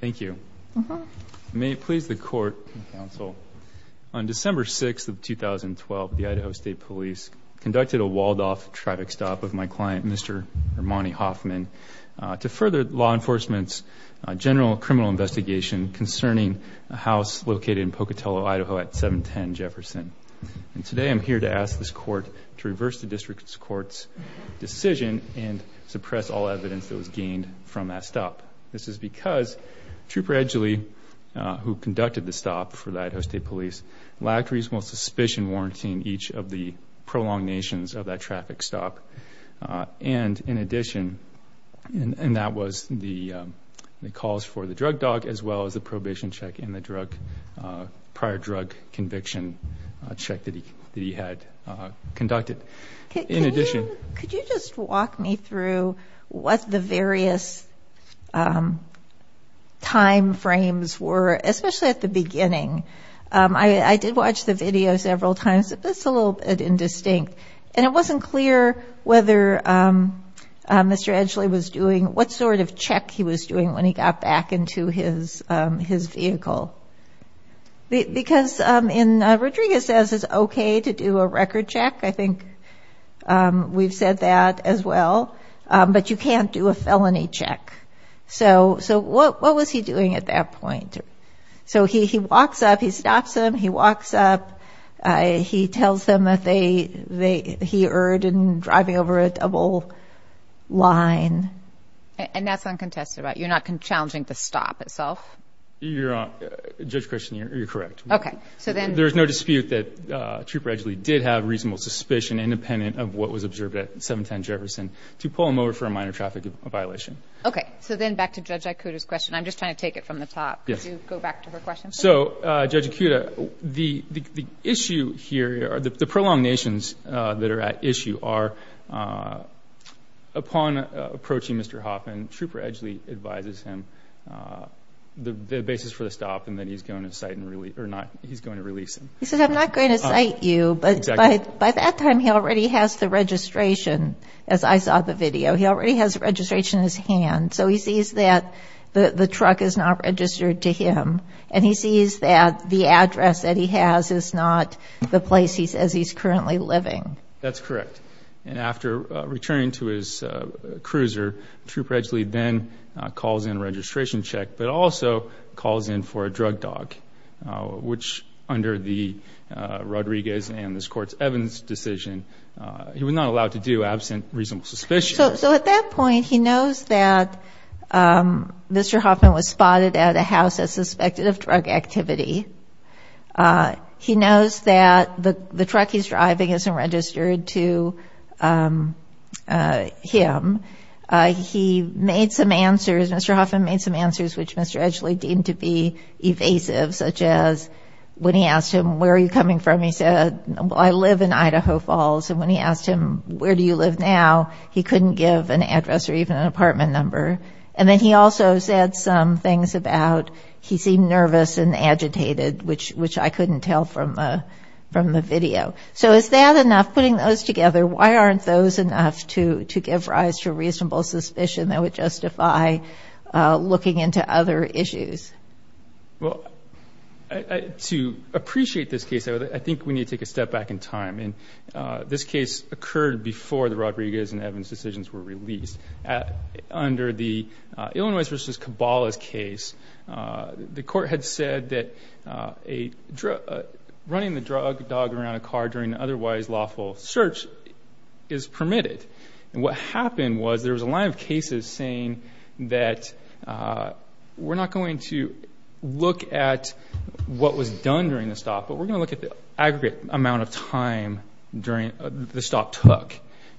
Thank you. May it please the court and counsel, on December 6th of 2012, the Idaho State Police conducted a walled-off traffic stop of my client, Mr. Monte Hoffman, to further law enforcement's general criminal investigation concerning a house located in Pocatello, Idaho at 710 Jefferson. And today I'm here to ask this court to reverse the district's court's decision and suppress all evidence that was gained from that stop. This is because Trooper Edgeley, who conducted the stop for the Idaho State Police, lacked reasonable suspicion warranting each of the prolongations of that traffic stop. And in addition, and that was the calls for the drug dog as well as the probation check and the prior drug conviction check that he had conducted. In addition- Could you just walk me through what the various timeframes were, especially at the beginning? I did watch the video several times, but it's a little bit indistinct. And it wasn't clear whether Mr. Edgeley was doing, what sort of check he was doing when he got back into his vehicle. Because in, Rodriguez says it's okay to do a record check. I think we've said that as well, but you can't do a felony check. So what was he doing at that point? So he walks up, he stops him, he walks up, he tells them that he erred in driving over a double line. And that's uncontested, right? You're not challenging the stop itself? You're on, Judge Christian, you're correct. Okay. So then- There's no dispute that Trooper Edgeley did have reasonable suspicion independent of what was observed at 710 Jefferson to pull him over for a minor traffic violation. Okay. So then back to Judge Ikuda's question. I'm just trying to take it from the top. Yes. Could you go back to her question? So, Judge Ikuda, the issue here, the prolongations that are at issue are, upon approaching Mr. Hoppen, Trooper Edgeley advises him the basis for the stop, and then he's going to release him. He says, I'm not going to cite you, but by that time he already has the registration, as I saw the video, he already has registration in his hand. So he sees that the truck is not registered to him, and he sees that the address that he has is not the place as he's currently living. That's correct. And after returning to his cruiser, Trooper Edgeley then calls in a registration check, but also calls in for a drug dog, which under the Rodriguez and this Court's Evans decision, he was not allowed to do absent reasonable suspicion. So at that point, he knows that Mr. Hoppen was spotted at a house that suspected of drug activity. He knows that the truck he's driving isn't registered to him. He made some answers, Mr. Hoppen made some answers, which Mr. Edgeley deemed to be evasive, such as when he asked him, where are you coming from? He said, well, I live in Idaho Falls. And when he asked him, where do you live now? He couldn't give an address or even an apartment number. And then he also said some things about he seemed nervous and agitated, which I couldn't tell from the video. So is that enough, putting those together? Why aren't those enough to give rise to reasonable suspicion that would justify looking into other issues? Well, to appreciate this case, I think we need to take a step back in time. And this case occurred before the Rodriguez and Evans decisions were released. Under the Illinois versus Cabala's case, the court had said that running the drug dog around a car during otherwise lawful search is permitted. And what happened was there was a line of cases saying that we're not going to look at what was done during the stop, but we're going to look at the aggregate amount of time the stop took.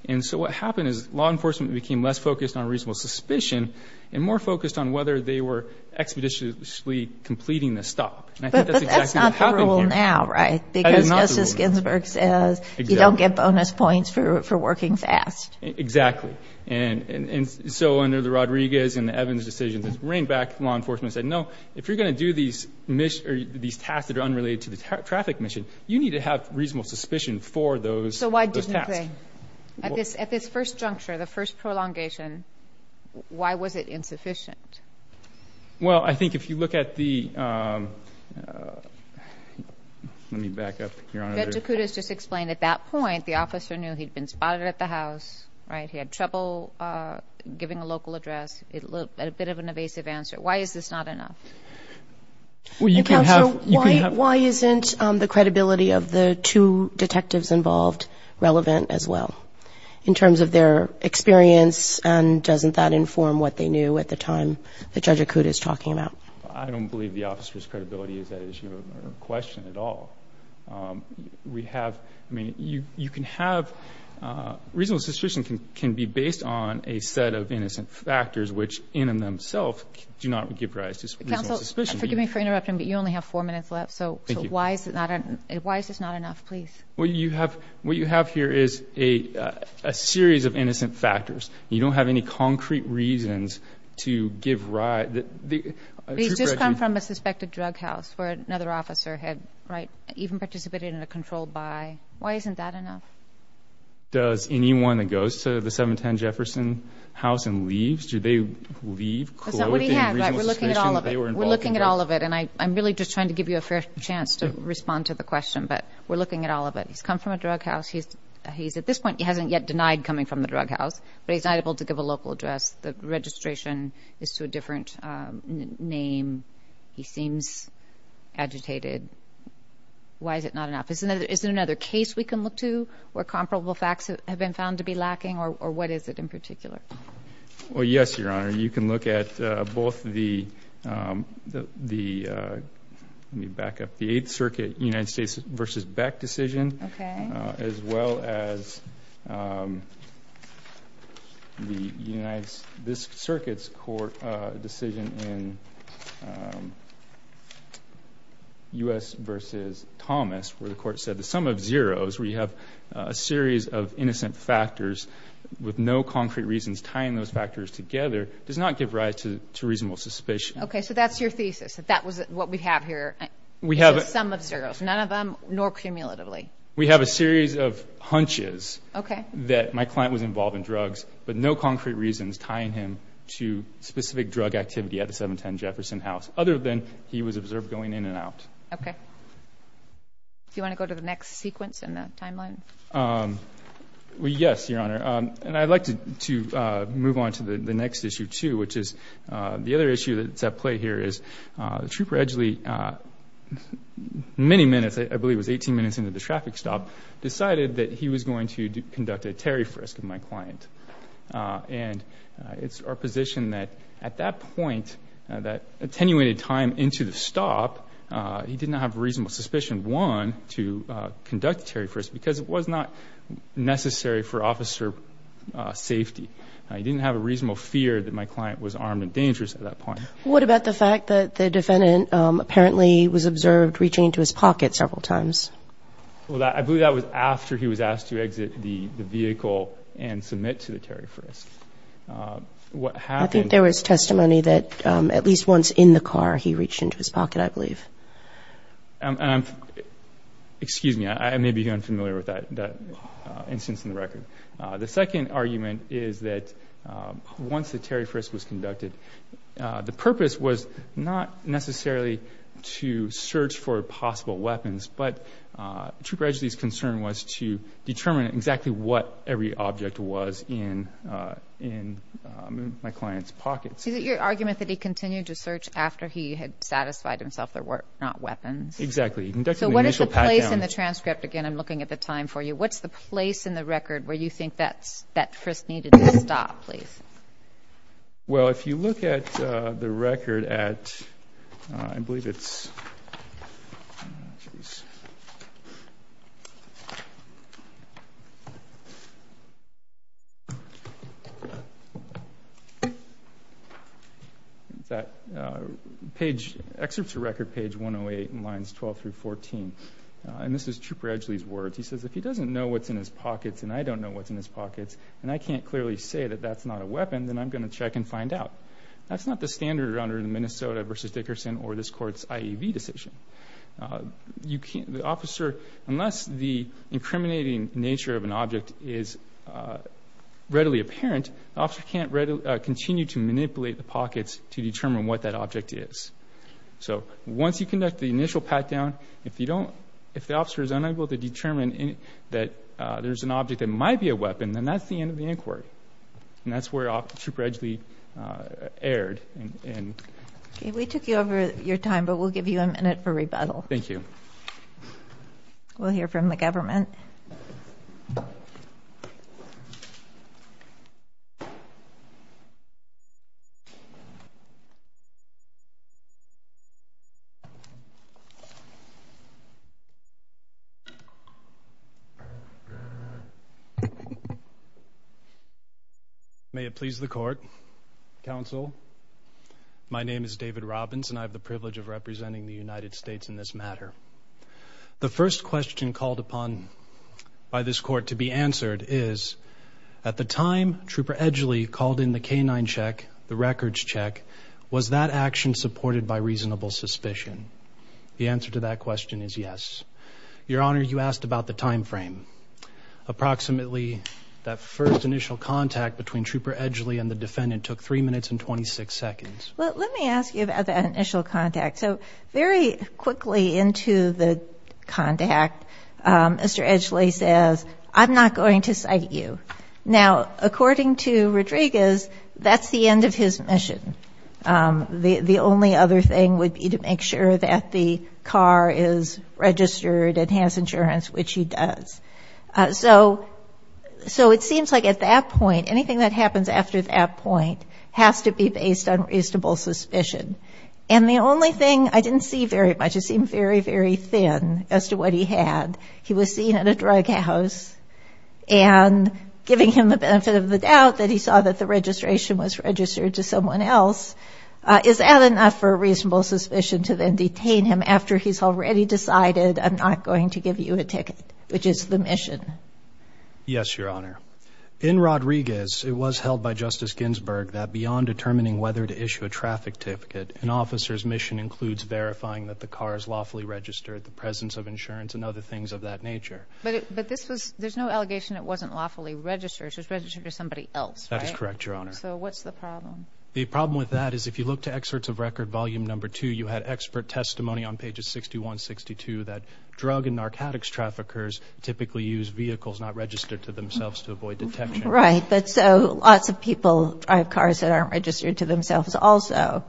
And so what happened is law enforcement became less focused on reasonable suspicion and more focused on whether they were expeditiously completing the stop. But that's not the rule now, right? Because Justice Ginsburg says you don't get bonus points for working fast. Exactly. And so under the Rodriguez and the Evans decisions, it's bring back law enforcement said, no, if you're going to do these tasks that are unrelated to the traffic mission, you need to have reasonable suspicion for those tasks. At this first juncture, the first prolongation, why was it insufficient? Well, I think if you look at the, let me back up, Your Honor. Beto Couto has just explained at that point, the officer knew he'd been spotted at the house, right? He had trouble giving a local address. It looked a bit of an evasive answer. Why is this not enough? Well, you can have... Counsel, why isn't the credibility of the two detectives involved relevant as well in terms of their experience and doesn't that inform what they knew at the time that Judge Couto is talking about? I don't believe the officer's credibility is at issue or a question at all. We have, I mean, you can have, reasonable suspicion can be based on a set of innocent factors which in and of themselves do not give rise to... Counsel, forgive me for interrupting, but you only have four minutes left. So, why is this not enough, please? What you have here is a series of innocent factors. You don't have any concrete reasons to give rise... These just come from a suspected drug house where another officer had, right, even participated in a controlled buy. Why isn't that enough? Does anyone that goes to the 710 Jefferson house and leaves, do they leave... We're looking at all of it and I'm really just trying to give you a fair chance to respond to the question, but we're looking at all of it. He's come from a drug house, he's, at this point, he hasn't yet denied coming from the drug house, but he's not able to give a local address. The registration is to a different name. He seems agitated. Why is it not enough? Is there another case we can look to where comparable facts have been found to be lacking or what is it in particular? Well, yes, Your Honor, you can look at both the, let me back up, the Eighth Circuit United States v. Beck decision as well as the United, this circuit's court decision in U.S. v. Thomas where the court said the sum of zeros, where you have a series of innocent factors with no concrete reasons tying those factors together does not give rise to reasonable suspicion. Okay, so that's your thesis, that that was what we have here, the sum of zeros, none of them, nor cumulatively. We have a series of hunches that my client was involved in drugs, but no concrete reasons tying him to specific drug activity at the 710 Jefferson house other than he was observed going in and out. Okay. Do you want to go to the next sequence in the timeline? Well, yes, Your Honor, and I'd like to move on to the next issue too, which is the other issue that's at play here is the Trooper Edgeley, many minutes, I believe it was 18 minutes into the traffic stop, decided that he was going to conduct a tariff risk on my client. And it's our position that at that point, that attenuated time into the stop, he didn't have a reasonable suspicion, one, to conduct tariff risk because it was not necessary for officer safety. He didn't have a reasonable fear that my client was armed and dangerous at that point. What about the fact that the defendant apparently was observed reaching into his pocket several times? Well, I believe that was after he was asked to exit the vehicle and submit to the tariff risk. What happened... And I'm... Excuse me, I may be unfamiliar with that instance in the record. The second argument is that once the tariff risk was conducted, the purpose was not necessarily to search for possible weapons, but Trooper Edgeley's concern was to determine exactly what every object was in my client's pockets. Is it your argument that he continued to search after he had satisfied himself there were not weapons? Exactly. So what is the place in the transcript? Again, I'm looking at the time for you. What's the place in the record where you think that risk needed to stop, please? Well, if you look at the record at... I believe it's... Excuse me. Excerpts of record page 108 and lines 12 through 14. And this is Trooper Edgeley's words. He says, if he doesn't know what's in his pockets and I don't know what's in his pockets, and I can't clearly say that that's not a weapon, then I'm going to check and find out. That's not the standard under the Minnesota v. Dickerson or this Court's IAV decision. You can't... The officer, unless the incriminating nature of an object is readily apparent, the officer can't continue to manipulate the pockets to determine what that object is. So once you conduct the initial pat-down, if you don't... that there's an object that might be a weapon, then that's the end of the inquiry. And that's where Trooper Edgeley erred. We took over your time, but we'll give you a minute for rebuttal. Thank you. We'll hear from the government. May it please the Court. Counsel, my name is David Robbins, and I have the privilege of representing the United States in this matter. The first question called upon by this Court to be answered is, at the time Trooper Edgeley called in the K-9 check, the records check, was that action supported by reasonable suspicion? The answer to that question is yes. Your Honor, you asked about the time frame. Approximately that first initial contact between Trooper Edgeley and the defendant took 3 minutes and 26 seconds. Let me ask you about that initial contact. So very quickly into the contact, Mr. Edgeley says, I'm not going to cite you. Now, according to Rodriguez, that's the end of his mission. The only other thing would be to make sure that the car is registered and has insurance, which he does. So it seems like at that point, anything that happens after that point has to be based on reasonable suspicion. And the only thing I didn't see very much, it seemed very, very thin as to what he had. He was seen at a drug house, and giving him the benefit of the doubt that he saw that the registration was registered to someone else, is that enough for reasonable suspicion to then detain him after he's already decided I'm not going to give you a ticket, which is the mission? Yes, Your Honor. In Rodriguez, it was held by Justice Ginsburg that beyond determining whether to issue a traffic ticket, an officer's mission includes verifying that the car is lawfully registered, the presence of insurance, and other things of that nature. But there's no allegation it wasn't lawfully registered. It was registered to somebody else, right? That is correct, Your Honor. So what's the problem? The problem with that is if you look to excerpts of Record Volume No. 2, you had expert testimony on pages 61, 62, that drug and narcotics traffickers typically use vehicles not registered to themselves to avoid detection. Right. But so lots of people drive cars that aren't registered to themselves also.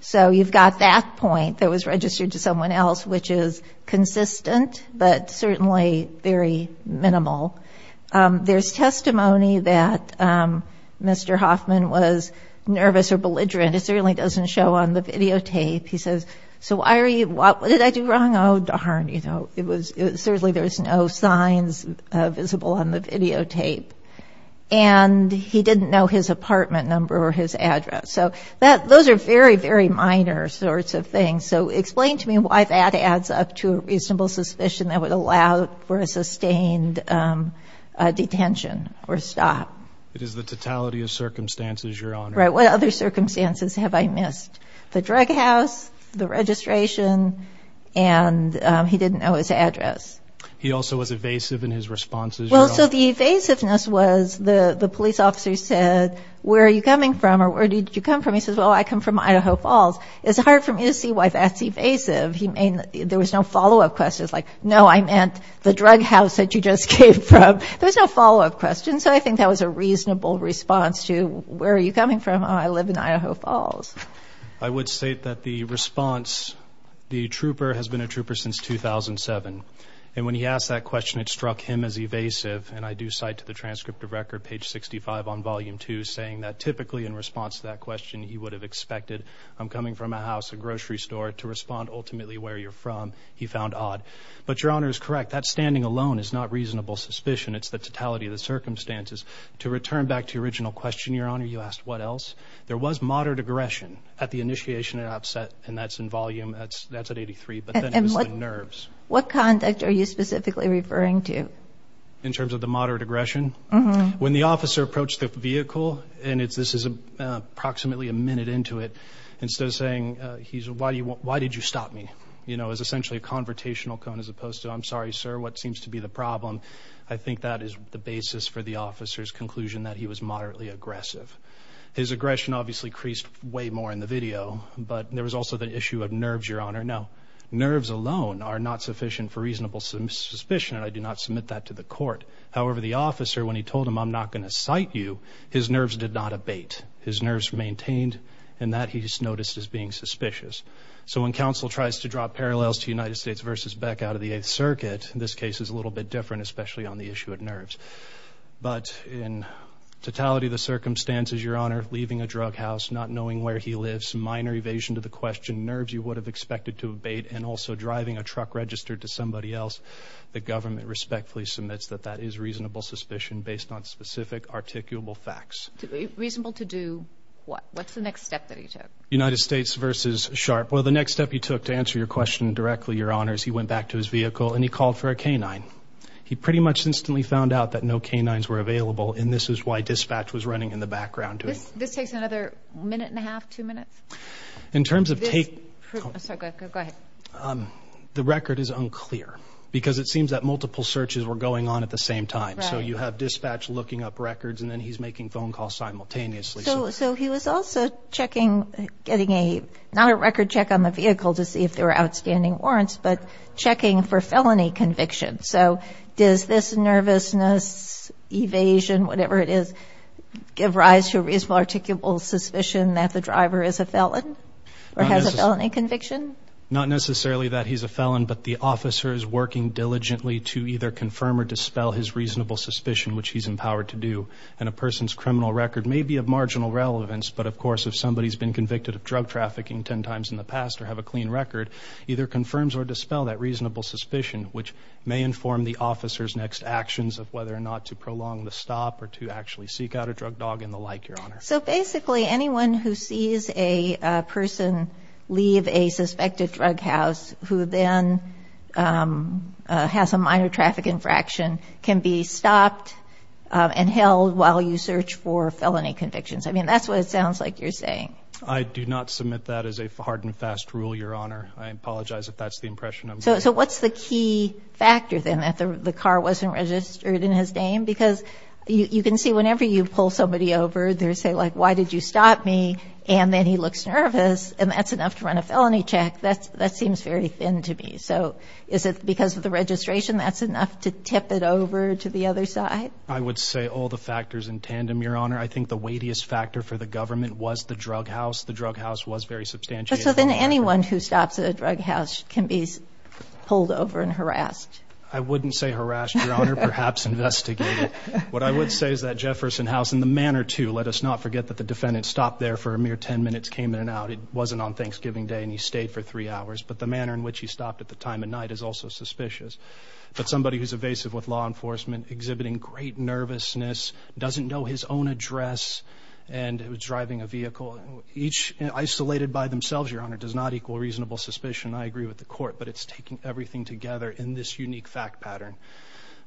So you've got that point, that it was registered to someone else, which is consistent but certainly very minimal. There's testimony that Mr. Hoffman was nervous or belligerent. It certainly doesn't show on the videotape. He says, so why are you – what did I do wrong? Oh, darn. You know, certainly there's no signs visible on the videotape. And he didn't know his apartment number or his address. So those are very, very minor sorts of things. So explain to me why that adds up to a reasonable suspicion that would allow for a sustained detention or stop. It is the totality of circumstances, Your Honor. Right. What other circumstances have I missed? The drug house, the registration, and he didn't know his address. He also was evasive in his responses. Well, so the evasiveness was the police officer said, where are you coming from or where did you come from? He says, well, I come from Idaho Falls. It's hard for me to see why that's evasive. There was no follow-up question. It's like, no, I meant the drug house that you just came from. There was no follow-up question. So I think that was a reasonable response to, where are you coming from? I live in Idaho Falls. I would state that the response, the trooper has been a trooper since 2007. And when he asked that question, it struck him as evasive. And I do cite to the transcript of record, page 65 on volume 2, saying that typically in response to that question, he would have expected, I'm coming from a house, a grocery store, to respond ultimately where you're from. He found odd. But Your Honor is correct. That standing alone is not reasonable suspicion. It's the totality of the circumstances. To return back to your original question, Your Honor, you asked what else? There was moderate aggression at the initiation and outset, and that's in volume, that's at 83, but then it was the nerves. And what conduct are you specifically referring to? In terms of the moderate aggression? Mm-hmm. When the officer approached the vehicle, and this is approximately a minute into it, instead of saying, he said, why did you stop me? You know, it was essentially a confrontational cone as opposed to, I'm sorry, sir, what seems to be the problem. I think that is the basis for the officer's conclusion that he was moderately aggressive. His aggression obviously creased way more in the video, but there was also the issue of nerves, Your Honor. Now, nerves alone are not sufficient for reasonable suspicion, and I do not submit that to the court. However, the officer, when he told him, I'm not going to cite you, his nerves did not abate. His nerves maintained, and that he noticed as being suspicious. So when counsel tries to draw parallels to United States v. Beck out of the Eighth Circuit, this case is a little bit different, especially on the issue of nerves. But in totality of the circumstances, Your Honor, leaving a drug house, not knowing where he lives, minor evasion to the question, nerves you would have expected to abate, and also driving a truck registered to somebody else, the government respectfully submits that that is reasonable suspicion based on specific articulable facts. Reasonable to do what? What's the next step that he took? United States v. Sharp. Well, the next step he took to answer your question directly, Your Honors, he went back to his vehicle, and he called for a K-9. He pretty much instantly found out that no K-9s were available, and this is why dispatch was running in the background to him. This takes another minute and a half, two minutes? In terms of take – Sorry, go ahead. The record is unclear because it seems that multiple searches were going on at the same time. Right. So you have dispatch looking up records, and then he's making phone calls simultaneously. So he was also checking, getting a – not a record check on the vehicle to see if there were outstanding warrants, but checking for felony conviction. So does this nervousness, evasion, whatever it is, give rise to a reasonable articulable suspicion that the driver is a felon or has a felony conviction? Not necessarily that he's a felon, but the officer is working diligently to either confirm or dispel his reasonable suspicion, which he's empowered to do. And a person's criminal record may be of marginal relevance, but, of course, if somebody's been convicted of drug trafficking 10 times in the past or have a clean record, either confirms or dispels that reasonable suspicion, which may inform the officer's next actions of whether or not to prolong the stop or to actually seek out a drug dog and the like, Your Honor. So basically anyone who sees a person leave a suspected drug house who then has a minor traffic infraction can be stopped and held while you search for felony convictions. I mean, that's what it sounds like you're saying. I do not submit that as a hard and fast rule, Your Honor. I apologize if that's the impression I'm getting. So what's the key factor, then, that the car wasn't registered in his name? Because you can see whenever you pull somebody over, they'll say, like, why did you stop me? And then he looks nervous, and that's enough to run a felony check. That seems very thin to me. So is it because of the registration? That's enough to tip it over to the other side? I would say all the factors in tandem, Your Honor. I think the weightiest factor for the government was the drug house. The drug house was very substantiated. So then anyone who stops at a drug house can be pulled over and harassed? I wouldn't say harassed, Your Honor, perhaps investigated. What I would say is that Jefferson House, in the manner to let us not forget that the defendant stopped there for a mere 10 minutes, came in and out. He wasn't on Thanksgiving Day, and he stayed for three hours. But the manner in which he stopped at the time of night is also suspicious. But somebody who's evasive with law enforcement, exhibiting great nervousness, doesn't know his own address, and driving a vehicle, each isolated by themselves, Your Honor, does not equal reasonable suspicion. I agree with the court, but it's taking everything together in this unique fact pattern.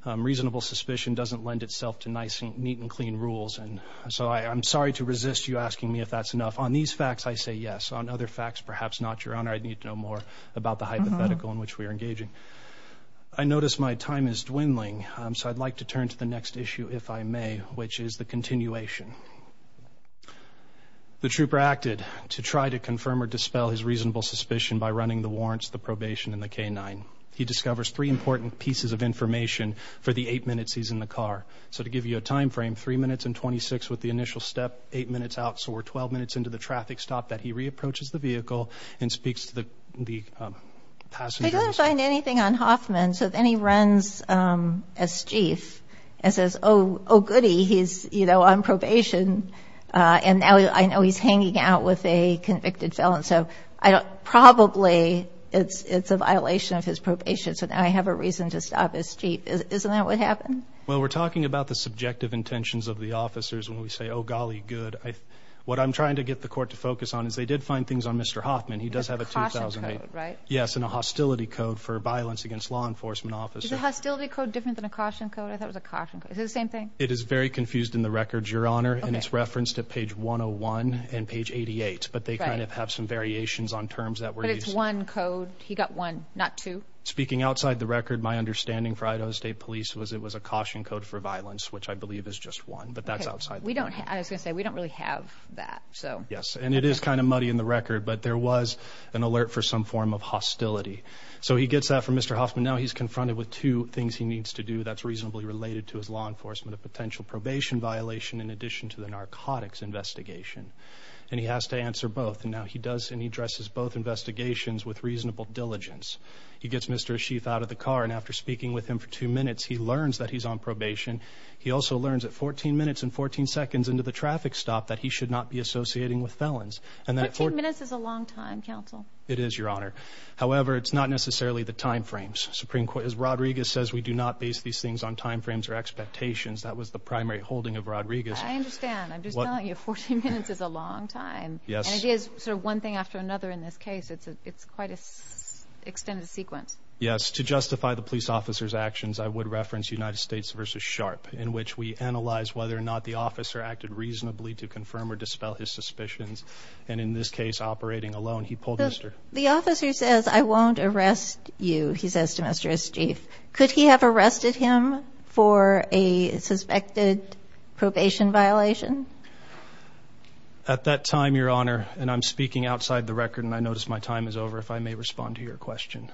Reasonable suspicion doesn't lend itself to neat and clean rules. So I'm sorry to resist you asking me if that's enough. On these facts, I say yes. On other facts, perhaps not, Your Honor. I'd need to know more about the hypothetical in which we are engaging. I notice my time is dwindling, so I'd like to turn to the next issue, if I may, which is the continuation. The trooper acted to try to confirm or dispel his reasonable suspicion by running the warrants, the probation, and the K-9. He discovers three important pieces of information for the eight minutes he's in the car. So to give you a time frame, 3 minutes and 26 with the initial step, 8 minutes out, so we're 12 minutes into the traffic stop, that he re-approaches the vehicle and speaks to the passengers. He doesn't find anything on Hoffman, so then he runs S. Chief and says, oh, goody, he's, you know, on probation, and now I know he's hanging out with a convicted felon. So probably it's a violation of his probation, so now I have a reason to stop S. Chief. Isn't that what happened? Well, we're talking about the subjective intentions of the officers when we say, oh, golly, good. What I'm trying to get the court to focus on is they did find things on Mr. Hoffman. He does have a 2008. A caution code, right? Yes, and a hostility code for violence against law enforcement officers. Is a hostility code different than a caution code? I thought it was a caution code. Is it the same thing? It is very confused in the records, Your Honor, and it's referenced at page 101 and page 88, but they kind of have some variations on terms that were used. But it's one code. He got one, not two. Speaking outside the record, my understanding for Idaho State Police was it was a caution code for violence, which I believe is just one, but that's outside the record. I was going to say, we don't really have that. Yes, and it is kind of muddy in the record, but there was an alert for some form of hostility. So he gets that from Mr. Hoffman. Now he's confronted with two things he needs to do that's reasonably related to his law enforcement, a potential probation violation in addition to the narcotics investigation, and he has to answer both. And now he does, and he addresses both investigations with reasonable diligence. He gets Mr. Ashif out of the car, and after speaking with him for two minutes, he learns that he's on probation. He also learns at 14 minutes and 14 seconds into the traffic stop that he should not be associating with felons. 14 minutes is a long time, counsel. It is, Your Honor. However, it's not necessarily the time frames. Rodriguez says we do not base these things on time frames or expectations. That was the primary holding of Rodriguez. I understand. I'm just telling you, 14 minutes is a long time. Yes. And he has sort of one thing after another in this case. It's quite an extended sequence. Yes. To justify the police officer's actions, I would reference United States v. Sharpe, in which we analyze whether or not the officer acted reasonably to confirm or dispel his suspicions. And in this case, operating alone, he pulled Mr. The officer says, I won't arrest you, he says to Mr. Ashif. Could he have arrested him for a suspected probation violation? At that time, Your Honor, and I'm speaking outside the record, and I notice my time is over, if I may respond to your question.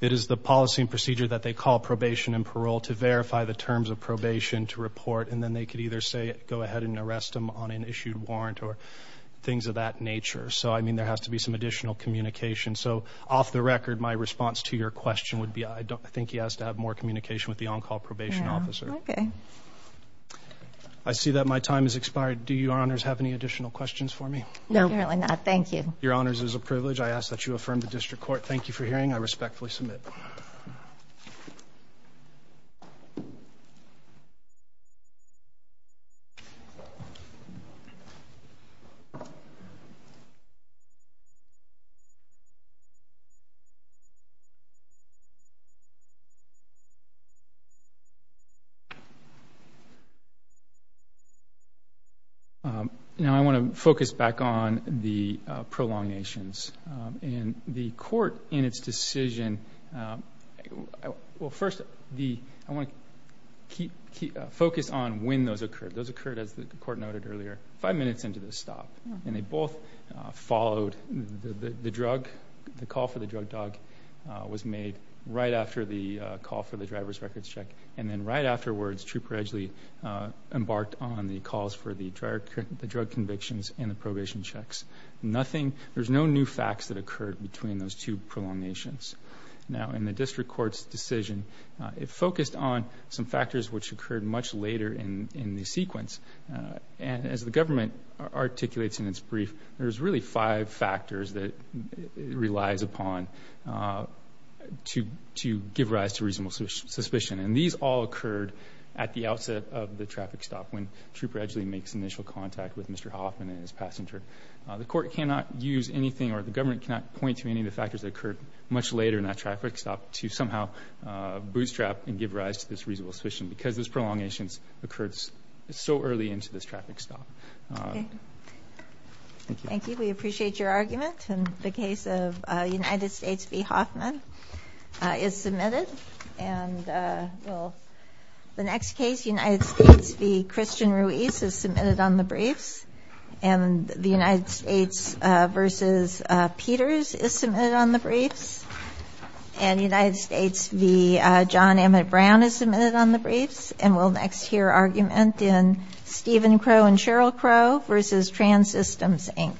It is the policy and procedure that they call probation and parole to verify the terms of probation to report, and then they could either say go ahead and arrest him on an issued warrant or things of that nature. So, I mean, there has to be some additional communication. So, off the record, my response to your question would be I think he has to have more communication with the on-call probation officer. Okay. I see that my time has expired. Do you, Your Honors, have any additional questions for me? No, apparently not. Thank you. Your Honors, it is a privilege I ask that you affirm the district court. Thank you for hearing. I respectfully submit. Thank you. Now, I want to focus back on the prolongations. In the court, in its decision, well, first, I want to focus on when those occurred. Those occurred, as the court noted earlier, five minutes into the stop, and they both followed. The drug, the call for the drug dog was made right after the call for the driver's records check, and then right afterwards, Trooper Edgeley embarked on the calls for the drug convictions and the probation checks. Nothing, there's no new facts that occurred between those two prolongations. Now, in the district court's decision, it focused on some factors which occurred much later in the sequence. And as the government articulates in its brief, there's really five factors that it relies upon to give rise to reasonable suspicion. And these all occurred at the outset of the traffic stop, when Trooper Edgeley makes initial contact with Mr. Hoffman and his passenger. The court cannot use anything, or the government cannot point to any of the factors that occurred much later in that traffic stop to somehow bootstrap and give rise to this reasonable suspicion because those prolongations occurred so early into this traffic stop. Okay. Thank you. Thank you. We appreciate your argument. And the case of United States v. Hoffman is submitted. And the next case, United States v. Christian Ruiz, is submitted on the briefs. And the United States v. Peters is submitted on the briefs. And United States v. John Emmett Brown is submitted on the briefs. And we'll next hear argument in Stephen Crow and Cheryl Crow v. Transystems, Inc.